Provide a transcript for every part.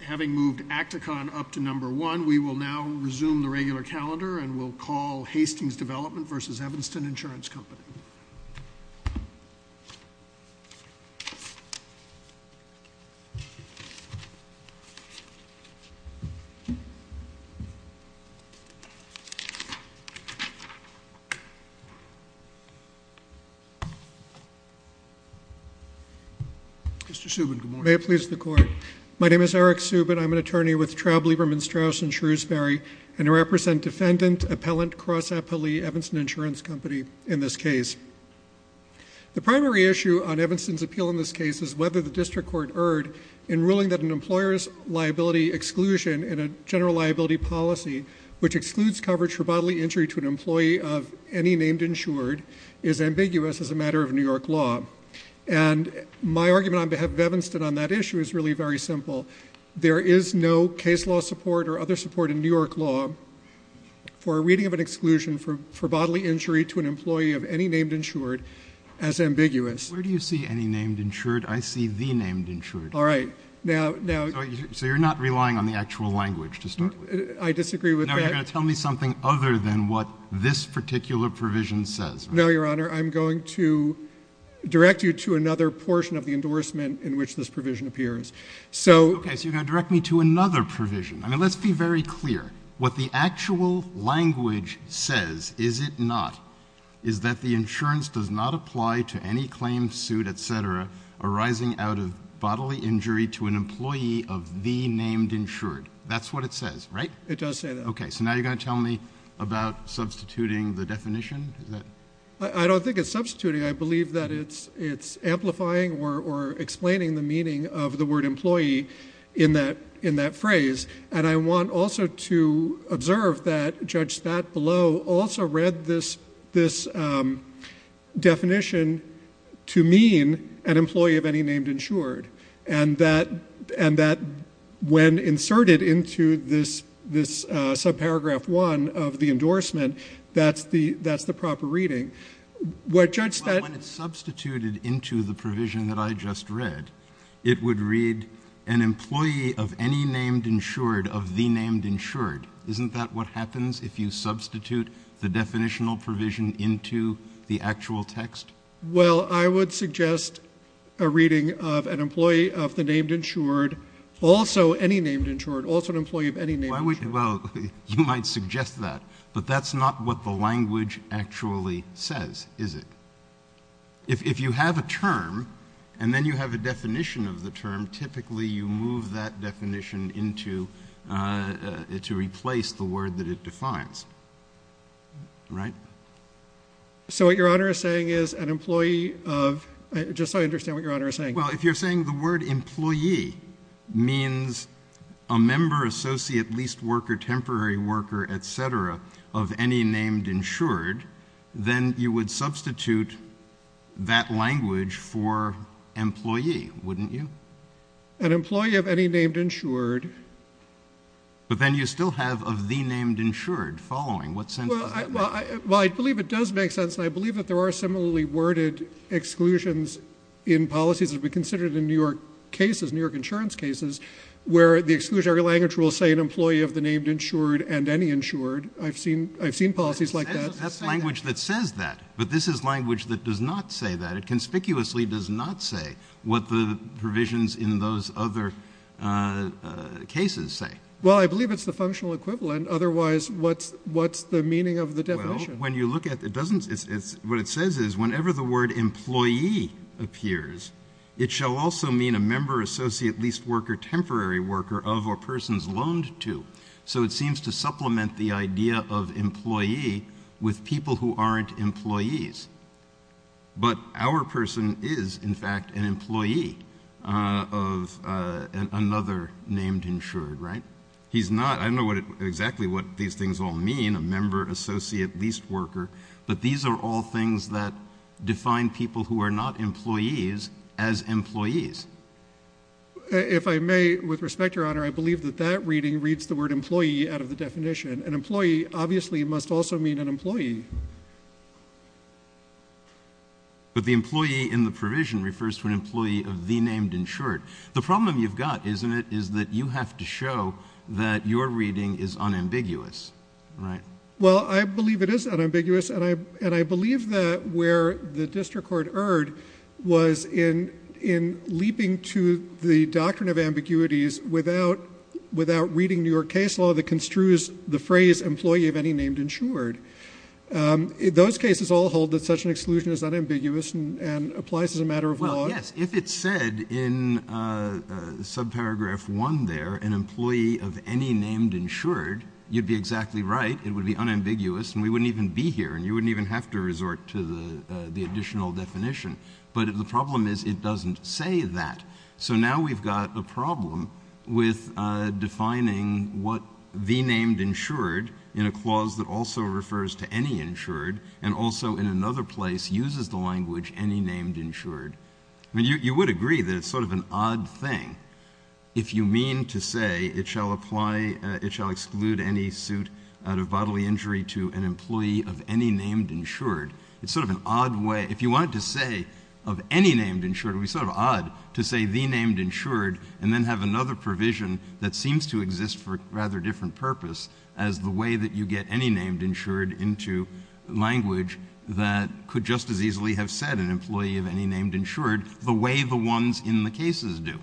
Having moved Acticon up to number one, we will now resume the regular calendar and we'll call Hastings Development v. Evanston Insurance Company. Mr. Subin, good morning. May it please the court. My name is Eric Subin. I'm an attorney with Traub, Lieberman, Strauss, and Shrewsbury and I represent defendant appellant cross appellee Evanston Insurance Company in this case. The primary issue on Evanston's appeal in this case is whether the district court erred in ruling that an employer's liability exclusion in a general liability policy which excludes coverage for bodily injury to an employee of any named insured is ambiguous as a matter of New York law. And my argument on behalf of Evanston on that issue is really very simple. There is no case law support or other support in New York law for a reading of an exclusion for bodily injury to an employee of any named insured as ambiguous. Where do you see any named insured? I see the named insured. All right. Now, now. So you're not relying on the actual language to start with? I disagree with that. Now, you're going to tell me something other than what this particular provision says. No, Your Honor. I'm going to direct you to another portion of the endorsement in which this provision appears. Okay. So you're going to direct me to another provision. I mean, let's be very clear. What the actual language says, is it not, is that the insurance does not apply to any claim, suit, et cetera, arising out of bodily injury to an employee of the named insured. That's what it says, right? It does say that. Okay. So now you're going to tell me about substituting the definition? I don't think it's substituting. I believe that it's amplifying or explaining the meaning of the word employee in that phrase. I want also to observe that Judge Statt below also read this definition to mean an employee of any named insured, and that when inserted into this subparagraph one of the endorsement, that's the proper reading. Well, when it's substituted into the provision that I just read, it would read an employee of any named insured of the named insured. Isn't that what happens if you substitute the definitional provision into the actual text? Well, I would suggest a reading of an employee of the named insured, also any named insured, also an employee of any named insured. Well, you might suggest that, but that's not what the language actually says, is it? If you have a term and then you have a definition of the term, typically you move that definition into to replace the word that it defines, right? So what Your Honor is saying is an employee of, just so I understand what Your Honor is saying. Well, if you're saying the word employee means a member, associate, leased worker, temporary worker, et cetera, of any named insured, then you would substitute that language for employee, wouldn't you? An employee of any named insured. But then you still have of the named insured following. What sense does that make? Well, I believe it does make sense, and I believe that there are similarly worded exclusions in policies that have been considered in New York cases, New York insurance cases, where the exclusionary language will say an employee of the named insured and any insured. I've seen policies like that. That's the language that says that, but this is language that does not say that. It conspicuously does not say what the provisions in those other cases say. Well, I believe it's the functional equivalent, otherwise what's the meaning of the definition? When you look at it, what it says is whenever the word employee appears, it shall also mean a member, associate, leased worker, temporary worker of or persons loaned to. So it seems to supplement the idea of employee with people who aren't employees. But our person is, in fact, an employee of another named insured, right? He's not. I don't know exactly what these things all mean, a member, associate, leased worker, but these are all things that define people who are not employees as employees. If I may, with respect, Your Honor, I believe that that reading reads the word employee out of the definition. An employee obviously must also mean an employee. But the employee in the provision refers to an employee of the named insured. The problem you've got, isn't it, is that you have to show that your reading is unambiguous, right? Well, I believe it is unambiguous, and I believe that where the district court erred was in leaping to the doctrine of ambiguities without reading New York case law that construes the phrase employee of any named insured. Those cases all hold that such an exclusion is unambiguous and applies as a matter of law. Yes, if it said in subparagraph one there, an employee of any named insured, you'd be exactly right. It would be unambiguous, and we wouldn't even be here, and you wouldn't even have to resort to the additional definition. But the problem is it doesn't say that. So now we've got a problem with defining what the named insured in a clause that also refers to any insured and also in another place uses the language any named insured. I mean, you would agree that it's sort of an odd thing. If you mean to say it shall apply, it shall exclude any suit out of bodily injury to an employee of any named insured, it's sort of an odd way. If you wanted to say of any named insured, it would be sort of odd to say the named insured and then have another provision that seems to exist for a rather different purpose as the way that you get any named insured into language that could just as easily have said an employee of any named insured the way the ones in the cases do.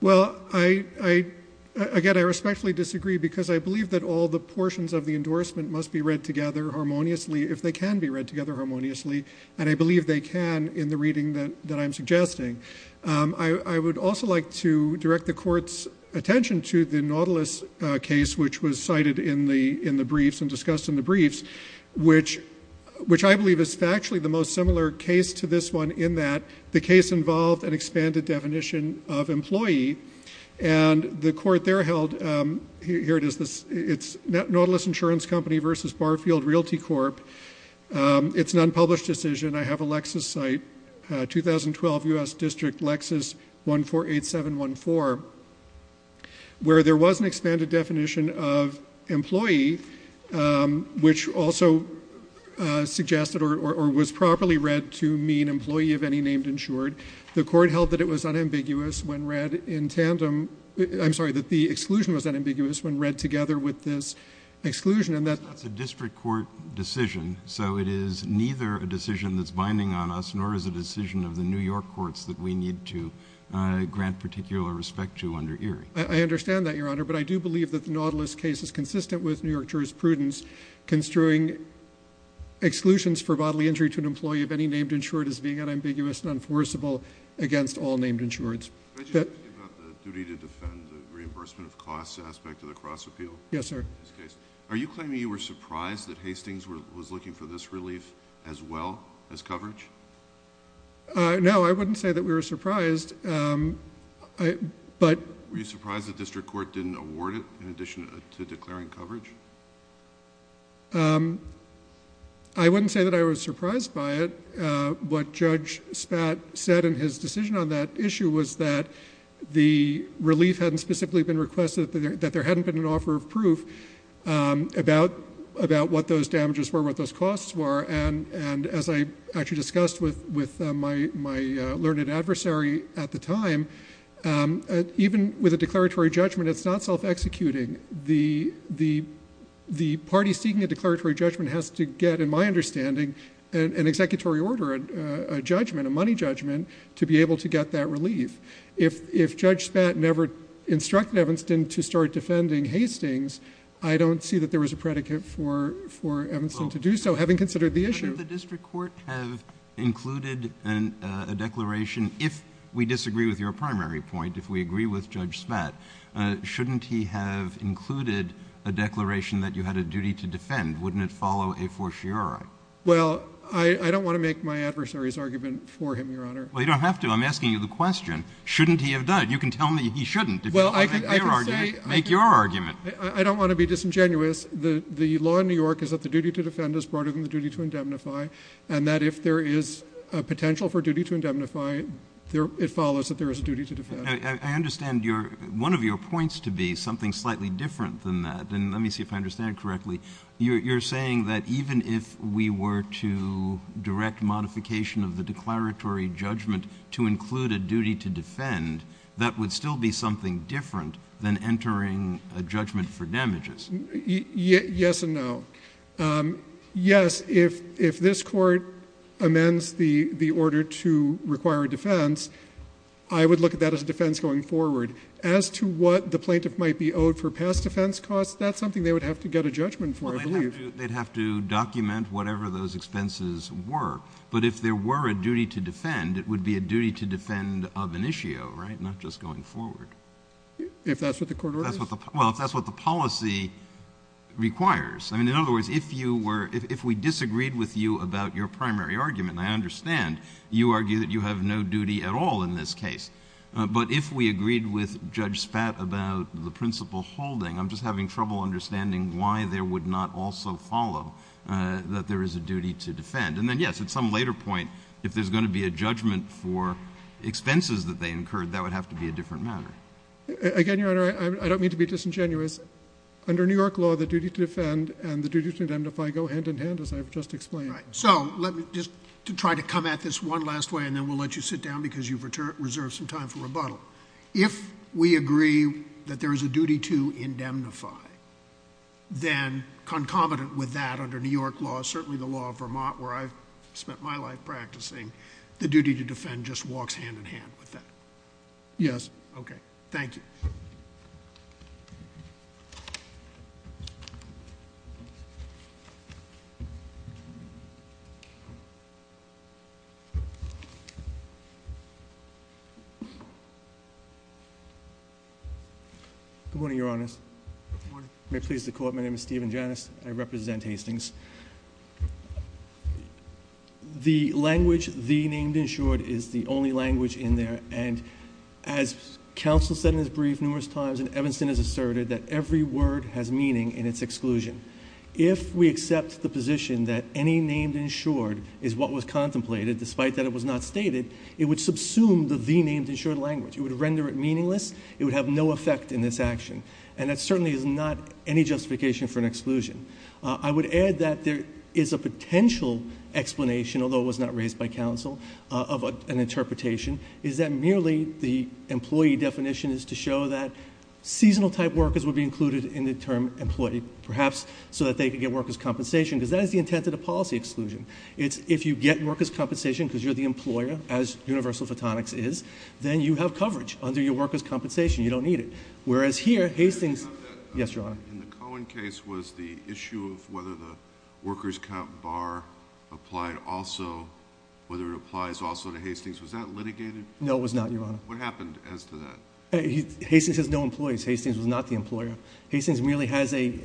Well, again, I respectfully disagree because I believe that all the portions of the endorsement must be read together harmoniously, if they can be read together harmoniously, and I believe they can in the reading that I'm suggesting. I would also like to direct the court's attention to the Nautilus case, which was cited in the briefs and discussed in the briefs, which I believe is factually the most similar case to this one in that the case involved an expanded definition of employee. And the court there held, here it is, it's Nautilus Insurance Company versus Barfield Realty Corp. It's an unpublished decision. I have a Lexis site, 2012 U.S. District Lexis 148714, where there was an expanded definition of employee, which also suggested or was properly read to mean employee of any named insured. The court held that it was unambiguous when read in tandem, I'm sorry, that the exclusion was unambiguous when read together with this exclusion and that's a district court decision, so it is neither a decision that's binding on us nor is a decision of the New York courts that we need to grant particular respect to under Erie. I understand that, Your Honor, but I do believe that the Nautilus case is consistent with New York jurisprudence construing exclusions for bodily injury to an employee of any named insured as being unambiguous and enforceable against all named insureds. Can I just ask you about the duty to defend the reimbursement of costs aspect of the cross appeal? Yes, sir. Are you claiming you were surprised that Hastings was looking for this relief as well as coverage? No, I wouldn't say that we were surprised, but... Were you surprised the district court didn't award it in addition to declaring coverage? I wouldn't say that I was surprised by it. What Judge Spat said in his decision on that issue was that the relief hadn't specifically been requested, that there hadn't been an offer of proof about what those damages were, what those costs were, and as I actually discussed with my learned adversary at the time, even with a declaratory judgment, it's not self-executing. The party seeking a declaratory judgment has to get, in my understanding, an executory order, a judgment, a money judgment, to be able to get that relief. If Judge Spat never instructed Evanston to start defending Hastings, I don't see that there was a predicate for Evanston to do so, having considered the issue. Shouldn't the district court have included a declaration, if we disagree with your primary point, if we agree with Judge Spat, shouldn't he have included a declaration that you had a duty to defend? Wouldn't it follow a fortiori? Well, I don't want to make my adversary's argument for him, Your Honor. Well, you don't have to. I'm asking you the question. Shouldn't he have done it? You can tell me he shouldn't. I'll make your argument. I don't want to be disingenuous. The law in New York is that the duty to defend is broader than the duty to indemnify, and that if there is a potential for duty to indemnify, it follows that there is a duty to defend. I understand one of your points to be something slightly different than that, and let me see if I understand correctly. You're saying that even if we were to direct modification of the declaratory judgment to include a duty to defend, that would still be something different than entering a judgment for damages. Yes and no. Yes, if this Court amends the order to require a defense, I would look at that as a defense going forward. As to what the plaintiff might be owed for past defense costs, that's something they would have to get a judgment for, I believe. Well, they'd have to document whatever those expenses were. But if there were a duty to defend, it would be a duty to defend of an issue, right, not just going forward. If that's what the court orders? Well, if that's what the policy requires. I mean, in other words, if we disagreed with you about your primary argument, and I understand you argue that you have no duty at all in this case, but if we agreed with Judge Spat about the principle holding, I'm just having trouble understanding why there would not also follow that there is a duty to defend. And then, yes, at some later point, if there's going to be a judgment for expenses that they incurred, that would have to be a different matter. Again, Your Honor, I don't mean to be disingenuous. Under New York law, the duty to defend and the duty to indemnify go hand in hand, as I've just explained. Right. So let me just try to come at this one last way, and then we'll let you sit down because you've reserved some time for rebuttal. If we agree that there is a duty to indemnify, then concomitant with that under New York law, certainly the law of Vermont, where I've spent my life practicing, the duty to defend just walks hand in hand with that. Yes. Okay. Thank you. Good morning, Your Honors. Good morning. May it please the Court, my name is Stephen Janis, and I represent Hastings. The language, the named insured, is the only language in there, and as counsel said in his brief numerous times, and Evanston has asserted, that every word has meaning in its exclusion. If we accept the position that any named insured is what was contemplated, despite that it was not stated, it would subsume the the named insured language. It would render it meaningless. It would have no effect in this action, and that certainly is not any justification for an exclusion. I would add that there is a potential explanation, although it was not raised by counsel, of an interpretation, is that merely the employee definition is to show that seasonal type workers would be included in the term employee, perhaps so that they could get workers' compensation, because that is the intent of the policy exclusion. It's if you get workers' compensation because you're the employer, as universal photonics is, then you have coverage under your workers' compensation. You don't need it. Whereas here, Hastings... Yes, Your Honor.... in the Cohen case, was the issue of whether the workers' comp bar applied also, whether it applies also to Hastings, was that litigated? No, it was not, Your Honor. What happened as to that? Hastings has no employees. Hastings was not the employer. Hastings merely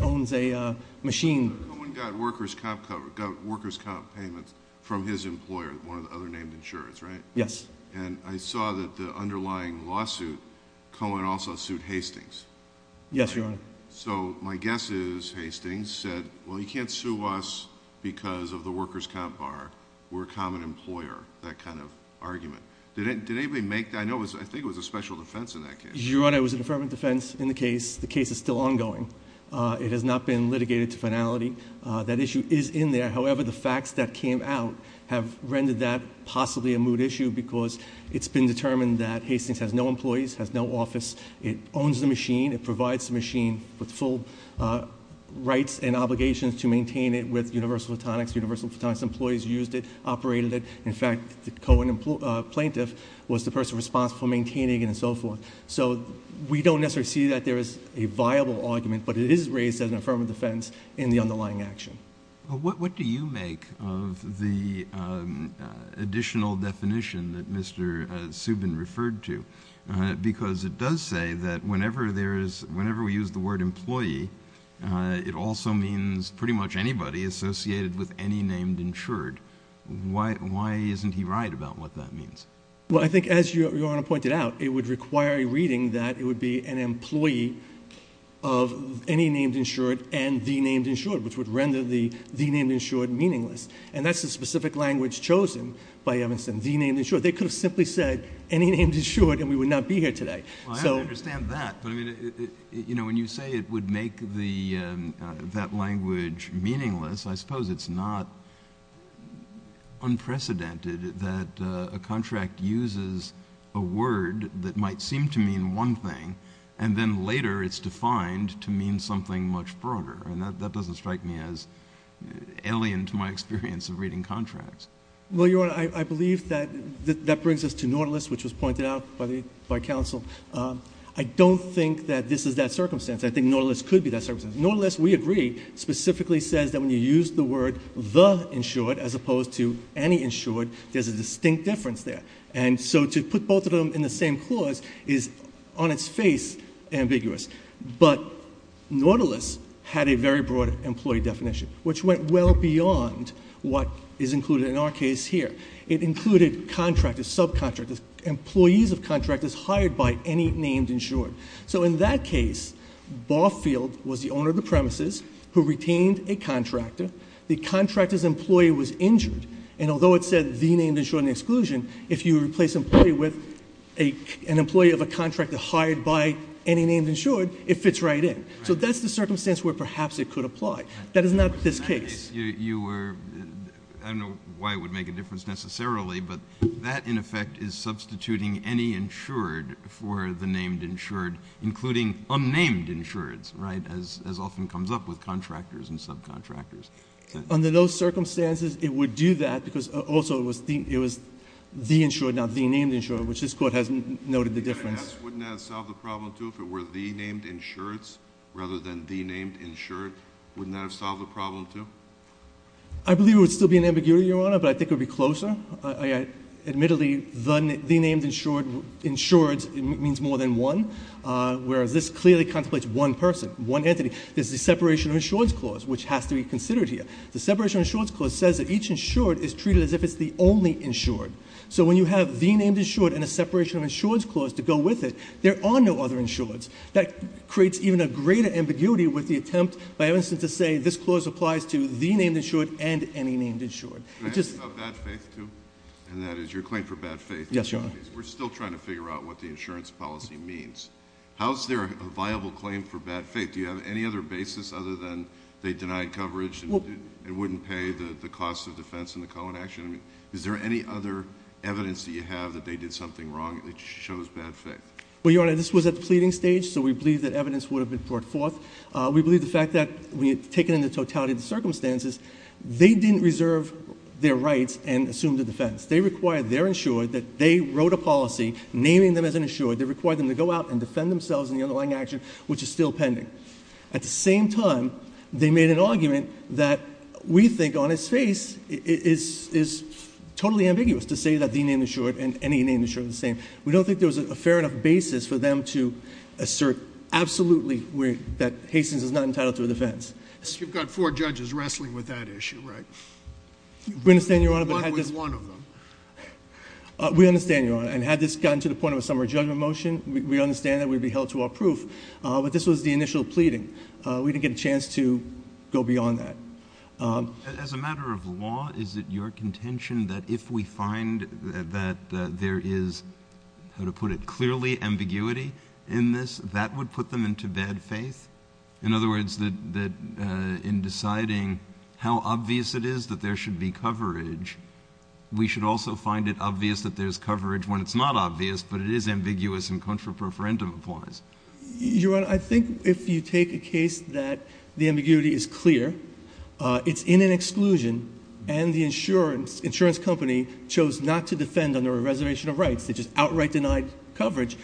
owns a machine. Cohen got workers' comp payments from his employer, one of the other named insureds, right? Yes. And I saw that the underlying lawsuit, Cohen also sued Hastings. Yes, Your Honor. So my guess is Hastings said, well, you can't sue us because of the workers' comp bar. We're a common employer, that kind of argument. Did anybody make... I think it was a special defense in that case. Your Honor, it was an affirmative defense in the case. The case is still ongoing. It has not been litigated to finality. That issue is in there. However, the facts that came out have rendered that possibly a moot issue because it's been determined that Hastings has no employees, has no office. It owns the machine. It provides the machine with full rights and obligations to maintain it with Universal Photonics. Universal Photonics employees used it, operated it. In fact, the Cohen plaintiff was the person responsible for maintaining it and so forth. So we don't necessarily see that there is a viable argument, but it is raised as an affirmative defense in the underlying action. What do you make of the additional definition that Mr. Subin referred to? Because it does say that whenever we use the word employee, it also means pretty much anybody associated with any named insured. Why isn't he right about what that means? Well, I think as Your Honor pointed out, it would require a reading that it would be an employee of any named insured and the named insured, which would render the named insured meaningless. And that's the specific language chosen by Evanston, the named insured. They could have simply said any named insured and we would not be here today. Well, I understand that, but I mean, you know, when you say it would make that language meaningless, I suppose it's not unprecedented that a contract uses a word that might seem to mean one thing and then later it's defined to mean something much broader. And that doesn't strike me as alien to my experience of reading contracts. Well, Your Honor, I believe that that brings us to Nautilus, which was pointed out by counsel. I don't think that this is that circumstance. I think Nautilus could be that circumstance. Nautilus, we agree, specifically says that when you use the word the insured as opposed to any insured, there's a distinct difference there. And so to put both of them in the same clause is on its face ambiguous. But Nautilus had a very broad employee definition, which went well beyond what is included in our case here. It included contractors, subcontractors, employees of contractors hired by any named insured. So in that case, Barfield was the owner of the premises who retained a contractor. The contractor's employee was injured. And although it said the named insured in the exclusion, if you replace employee with an employee of a contractor hired by any named insured, it fits right in. So that's the circumstance where perhaps it could apply. That is not this case. I don't know why it would make a difference necessarily, but that in effect is substituting any insured for the named insured, including unnamed insureds, right, as often comes up with contractors and subcontractors. Under those circumstances, it would do that because also it was the insured, not the named insured, which this Court has noted the difference. Wouldn't that have solved the problem, too, if it were the named insureds rather than the named insured? Wouldn't that have solved the problem, too? I believe it would still be an ambiguity, Your Honor, but I think it would be closer. Admittedly, the named insured means more than one, whereas this clearly contemplates one person, one entity. This is a separation of insureds clause, which has to be considered here. The separation of insureds clause says that each insured is treated as if it's the only insured. So when you have the named insured and a separation of insureds clause to go with it, there are no other insureds. That creates even a greater ambiguity with the attempt, by instance, to say this clause applies to the named insured and any named insured. Can I ask you about bad faith, too, and that is your claim for bad faith? Yes, Your Honor. We're still trying to figure out what the insurance policy means. How is there a viable claim for bad faith? Do you have any other basis other than they denied coverage and it wouldn't pay the cost of defense in the Cohen action? Is there any other evidence that you have that they did something wrong that shows bad faith? Well, Your Honor, this was at the pleading stage, so we believe that evidence would have been brought forth. We believe the fact that, taken in the totality of the circumstances, they didn't reserve their rights and assume the defense. They required their insured that they wrote a policy naming them as an insured. They required them to go out and defend themselves in the underlying action, which is still pending. At the same time, they made an argument that we think on its face is totally ambiguous to say that the named insured and any named insured are the same. We don't think there was a fair enough basis for them to assert absolutely that Hastings is not entitled to a defense. You've got four judges wrestling with that issue, right? We understand, Your Honor. One with one of them. We understand, Your Honor. And had this gotten to the point of a summary judgment motion, we understand that it would be held to our proof. But this was the initial pleading. We didn't get a chance to go beyond that. As a matter of law, is it your contention that if we find that there is, how to put it, clearly ambiguity in this, that would put them into bad faith? In other words, that in deciding how obvious it is that there should be coverage, we should also find it obvious that there's coverage when it's not obvious, but it is ambiguous and contrapreferendum applies? Your Honor, I think if you take a case that the ambiguity is clear, it's in an exclusion, and the insurance company chose not to defend under a reservation of rights, they just outright denied coverage,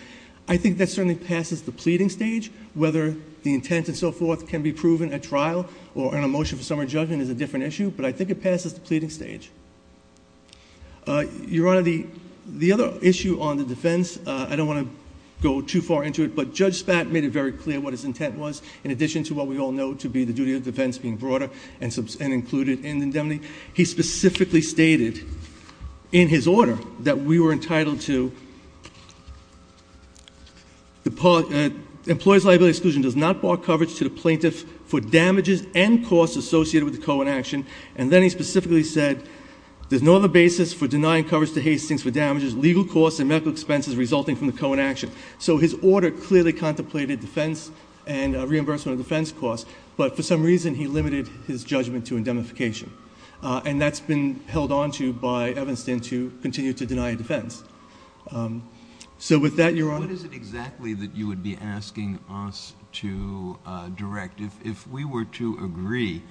I think that certainly passes the pleading stage. Whether the intent and so forth can be proven at trial or in a motion for summary judgment is a different issue, but I think it passes the pleading stage. Your Honor, the other issue on the defense, I don't want to go too far into it, but Judge Spatt made it very clear what his intent was, in addition to what we all know to be the duty of defense being broader and included in the indemnity. He specifically stated in his order that we were entitled to the employee's liability exclusion does not bar coverage to the plaintiff for damages and costs associated with the co-inaction, and then he specifically said there's no other basis for denying coverage to Hastings for damages, legal costs, and medical expenses resulting from the co-inaction. So his order clearly contemplated defense and reimbursement of defense costs, but for some reason he limited his judgment to indemnification, and that's been held onto by Evanston to continue to deny defense. So with that, Your Honor. What is it exactly that you would be asking us to direct? If we were to agree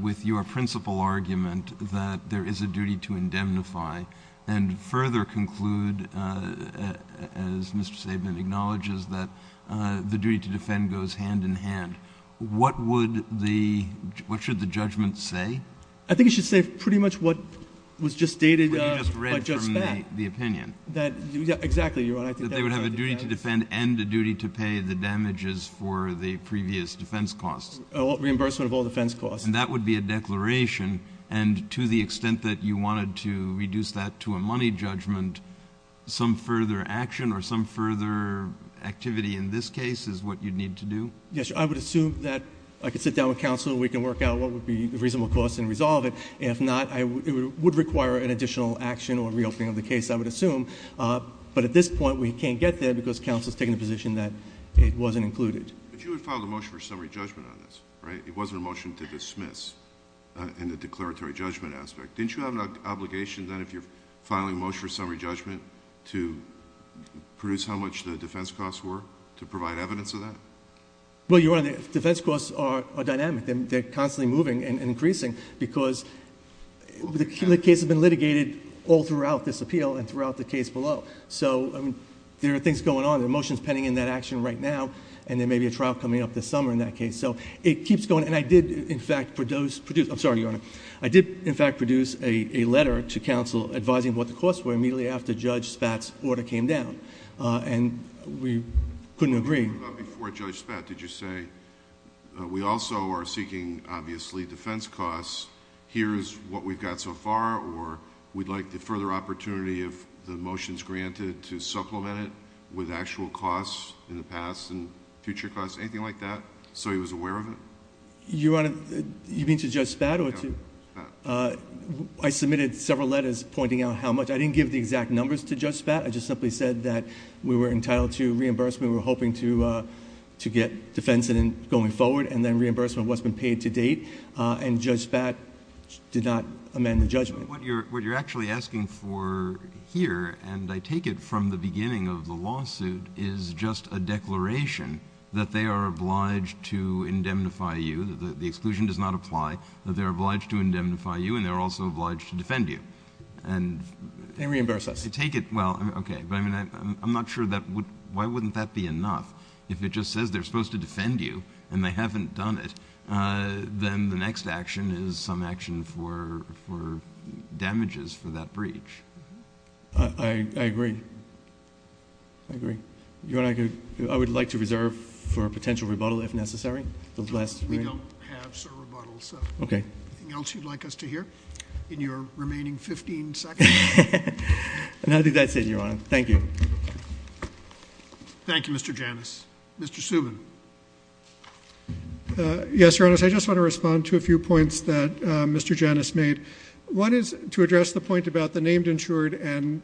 with your principal argument that there is a duty to indemnify and further conclude, as Mr. Sabin acknowledges, that the duty to defend goes hand in hand, what should the judgment say? I think it should say pretty much what was just dated by Judge Spatt. What you just read from the opinion. Exactly, Your Honor. That they would have a duty to defend and a duty to pay the damages for the previous defense costs. Reimbursement of all defense costs. And that would be a declaration, and to the extent that you wanted to reduce that to a money judgment, some further action or some further activity in this case is what you'd need to do? Yes, I would assume that I could sit down with counsel, we can work out what would be the reasonable cost and resolve it. If not, it would require an additional action or reopening of the case, I would assume. But at this point, we can't get there because counsel is taking the position that it wasn't included. But you would file a motion for summary judgment on this, right? It wasn't a motion to dismiss in the declaratory judgment aspect. Didn't you have an obligation then if you're filing a motion for summary judgment to produce how much the defense costs were, to provide evidence of that? Well, Your Honor, the defense costs are dynamic. They're constantly moving and increasing because the case has been litigated all throughout this appeal and throughout the case below. So there are things going on. The motion is pending in that action right now, and there may be a trial coming up this summer in that case. So it keeps going. And I did, in fact, produce a letter to counsel advising what the costs were immediately after Judge Spatz's order came down, and we couldn't agree. Before Judge Spatz, did you say, we also are seeking, obviously, defense costs. Here is what we've got so far, or we'd like the further opportunity of the motions granted to supplement it with actual costs in the past and future costs, anything like that? So he was aware of it? Your Honor, you mean to Judge Spatz or to... Yeah, Spatz. I submitted several letters pointing out how much. I didn't give the exact numbers to Judge Spatz. I just simply said that we were entitled to reimbursement. We were hoping to get defense going forward and then reimbursement of what's been paid to date, and Judge Spatz did not amend the judgment. What you're actually asking for here, and I take it from the beginning of the lawsuit, is just a declaration that they are obliged to indemnify you, that the exclusion does not apply, that they're obliged to indemnify you and they're also obliged to defend you. And... They reimburse us. I take it. Well, okay. But I mean, I'm not sure that would... Why wouldn't that be enough? If it just says they're supposed to defend you and they haven't done it, then the next action is some action for damages for that breach. I agree. I agree. Your Honor, I would like to reserve for a potential rebuttal if necessary. We don't have, sir, rebuttals. Okay. Anything else you'd like us to hear in your remaining 15 seconds? And I think that's it, Your Honor. Thank you. Thank you, Mr. Janus. Mr. Subin. Yes, Your Honor. I just want to respond to a few points that Mr. Janus made. One is to address the point about the named insured and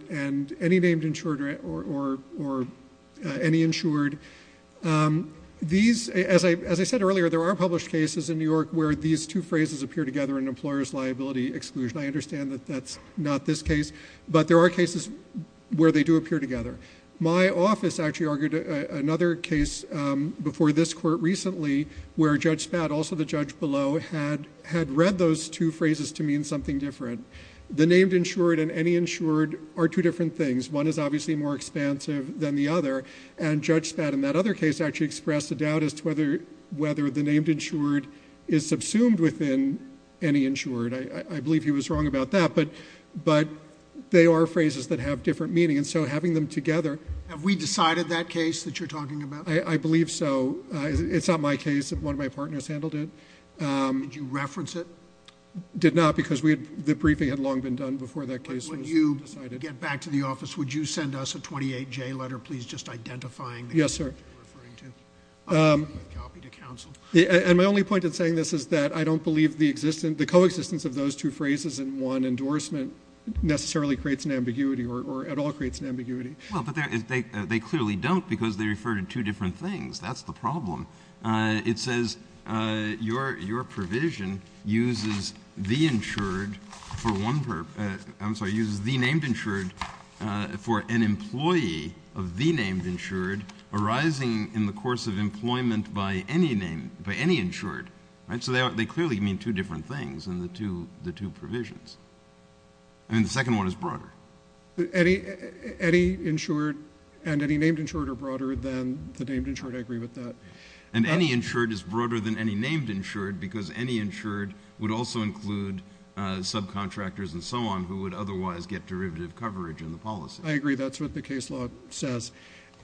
any named insured or any insured. These... As I said earlier, there are published cases in New York where these two phrases appear together in employer's liability exclusion. I understand that that's not this case, but there are cases where they do appear together. My office actually argued another case before this court recently where Judge Spad, also the judge below, had read those two phrases to mean something different. The named insured and any insured are two different things. One is obviously more expansive than the other, and Judge Spad in that other case actually expressed a doubt as to whether the named insured is subsumed within any insured. I believe he was wrong about that, but they are phrases that have different meaning, and so having them together... Have we decided that case that you're talking about? I believe so. It's not my case. One of my partners handled it. Did you reference it? Did not because the briefing had long been done before that case was decided. When you get back to the office, would you send us a 28-J letter, please, just identifying the case you're referring to? Yes, sir. I'll give you a copy to counsel. And my only point in saying this is that I don't believe the existence... the coexistence of those two phrases in one endorsement necessarily creates an ambiguity or at all creates an ambiguity. Well, but they clearly don't because they refer to two different things. That's the problem. It says your provision uses the insured for one purpose. I'm sorry. It uses the named insured for an employee of the named insured arising in the course of employment by any insured. So they clearly mean two different things in the two provisions. And the second one is broader. Any insured and any named insured are broader than the named insured. I agree with that. And any insured is broader than any named insured because any insured would also include subcontractors and so on who would otherwise get derivative coverage in the policy. I agree. That's what the case law says.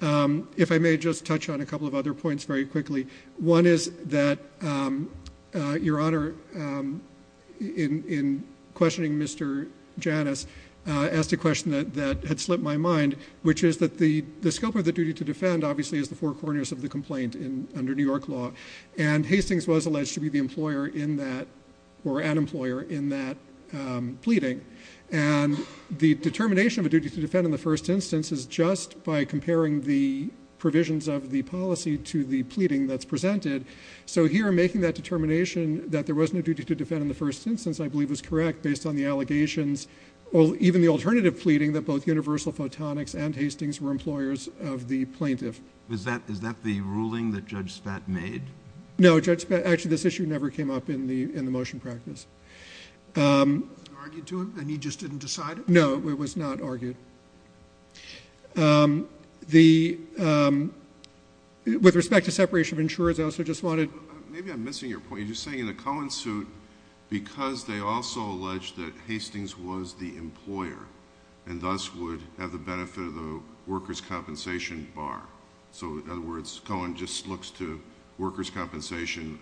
If I may just touch on a couple of other points very quickly. One is that Your Honor, in questioning Mr. Janus, asked a question that had slipped my mind, which is that the scope of the duty to defend obviously is the four corners of the complaint under New York law. And Hastings was alleged to be the employer in that or an employer in that pleading. And the determination of a duty to defend in the first instance is just by comparing the provisions of the policy to the pleading that's presented. So here making that determination that there was no duty to defend in the first instance I believe is correct based on the allegations, even the alternative pleading that both Universal Photonics and Hastings were employers of the plaintiff. Is that the ruling that Judge Spat made? No. Actually, this issue never came up in the motion practice. Was it argued to him and he just didn't decide it? No, it was not argued. With respect to separation of insurers, I also just wanted to... Maybe I'm missing your point. You're just saying in the Cohen suit because they also alleged that Hastings was the employer and thus would have the benefit of the workers' compensation bar. So in other words, Cohen just looks to workers' compensation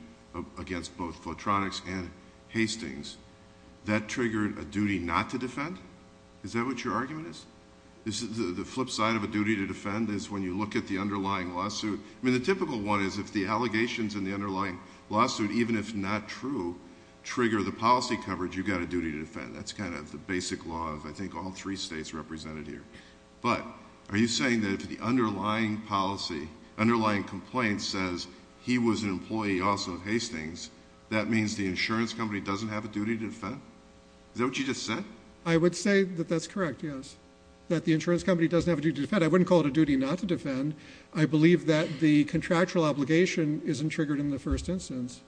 against both Photronics and Hastings. That triggered a duty not to defend? Is that what your argument is? The flip side of a duty to defend is when you look at the underlying lawsuit. I mean the typical one is if the allegations in the underlying lawsuit, even if not true, trigger the policy coverage, you've got a duty to defend. That's kind of the basic law of I think all three states represented here. But are you saying that if the underlying policy, underlying complaint says he was an employee also of Hastings, that means the insurance company doesn't have a duty to defend? Is that what you just said? I would say that that's correct, yes. That the insurance company doesn't have a duty to defend. I wouldn't call it a duty not to defend. I believe that the contractual obligation isn't triggered in the first instance.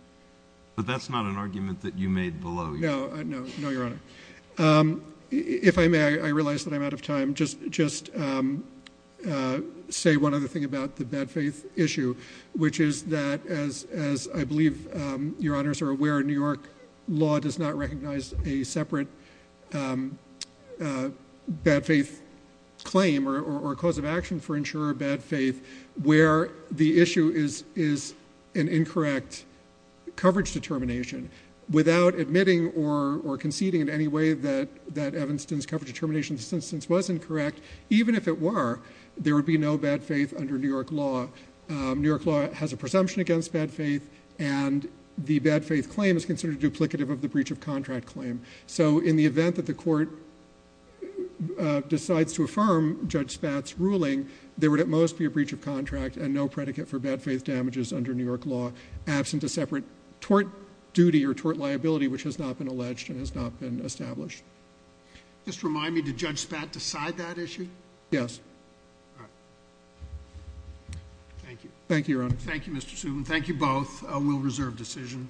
But that's not an argument that you made below you. No. No, Your Honor. If I may, I realize that I'm out of time. Just say one other thing about the bad faith issue, which is that as I believe Your Honors are aware, New York law does not recognize a separate bad faith claim or cause of action for insurer of bad faith where the issue is an incorrect coverage determination. Without admitting or conceding in any way that Evanston's coverage determination in this instance was incorrect, even if it were, there would be no bad faith under New York law. New York law has a presumption against bad faith, and the bad faith claim is considered duplicative of the breach of contract claim. So in the event that the court decides to affirm Judge Spatz' ruling, there would at most be a breach of contract and no predicate for bad faith damages under New York law, absent a separate tort duty or tort liability which has not been alleged and has not been established. Just remind me, did Judge Spatz decide that issue? Yes. All right. Thank you. Thank you, Your Honor. Thank you, Mr. Subin. Thank you both. We'll reserve decision.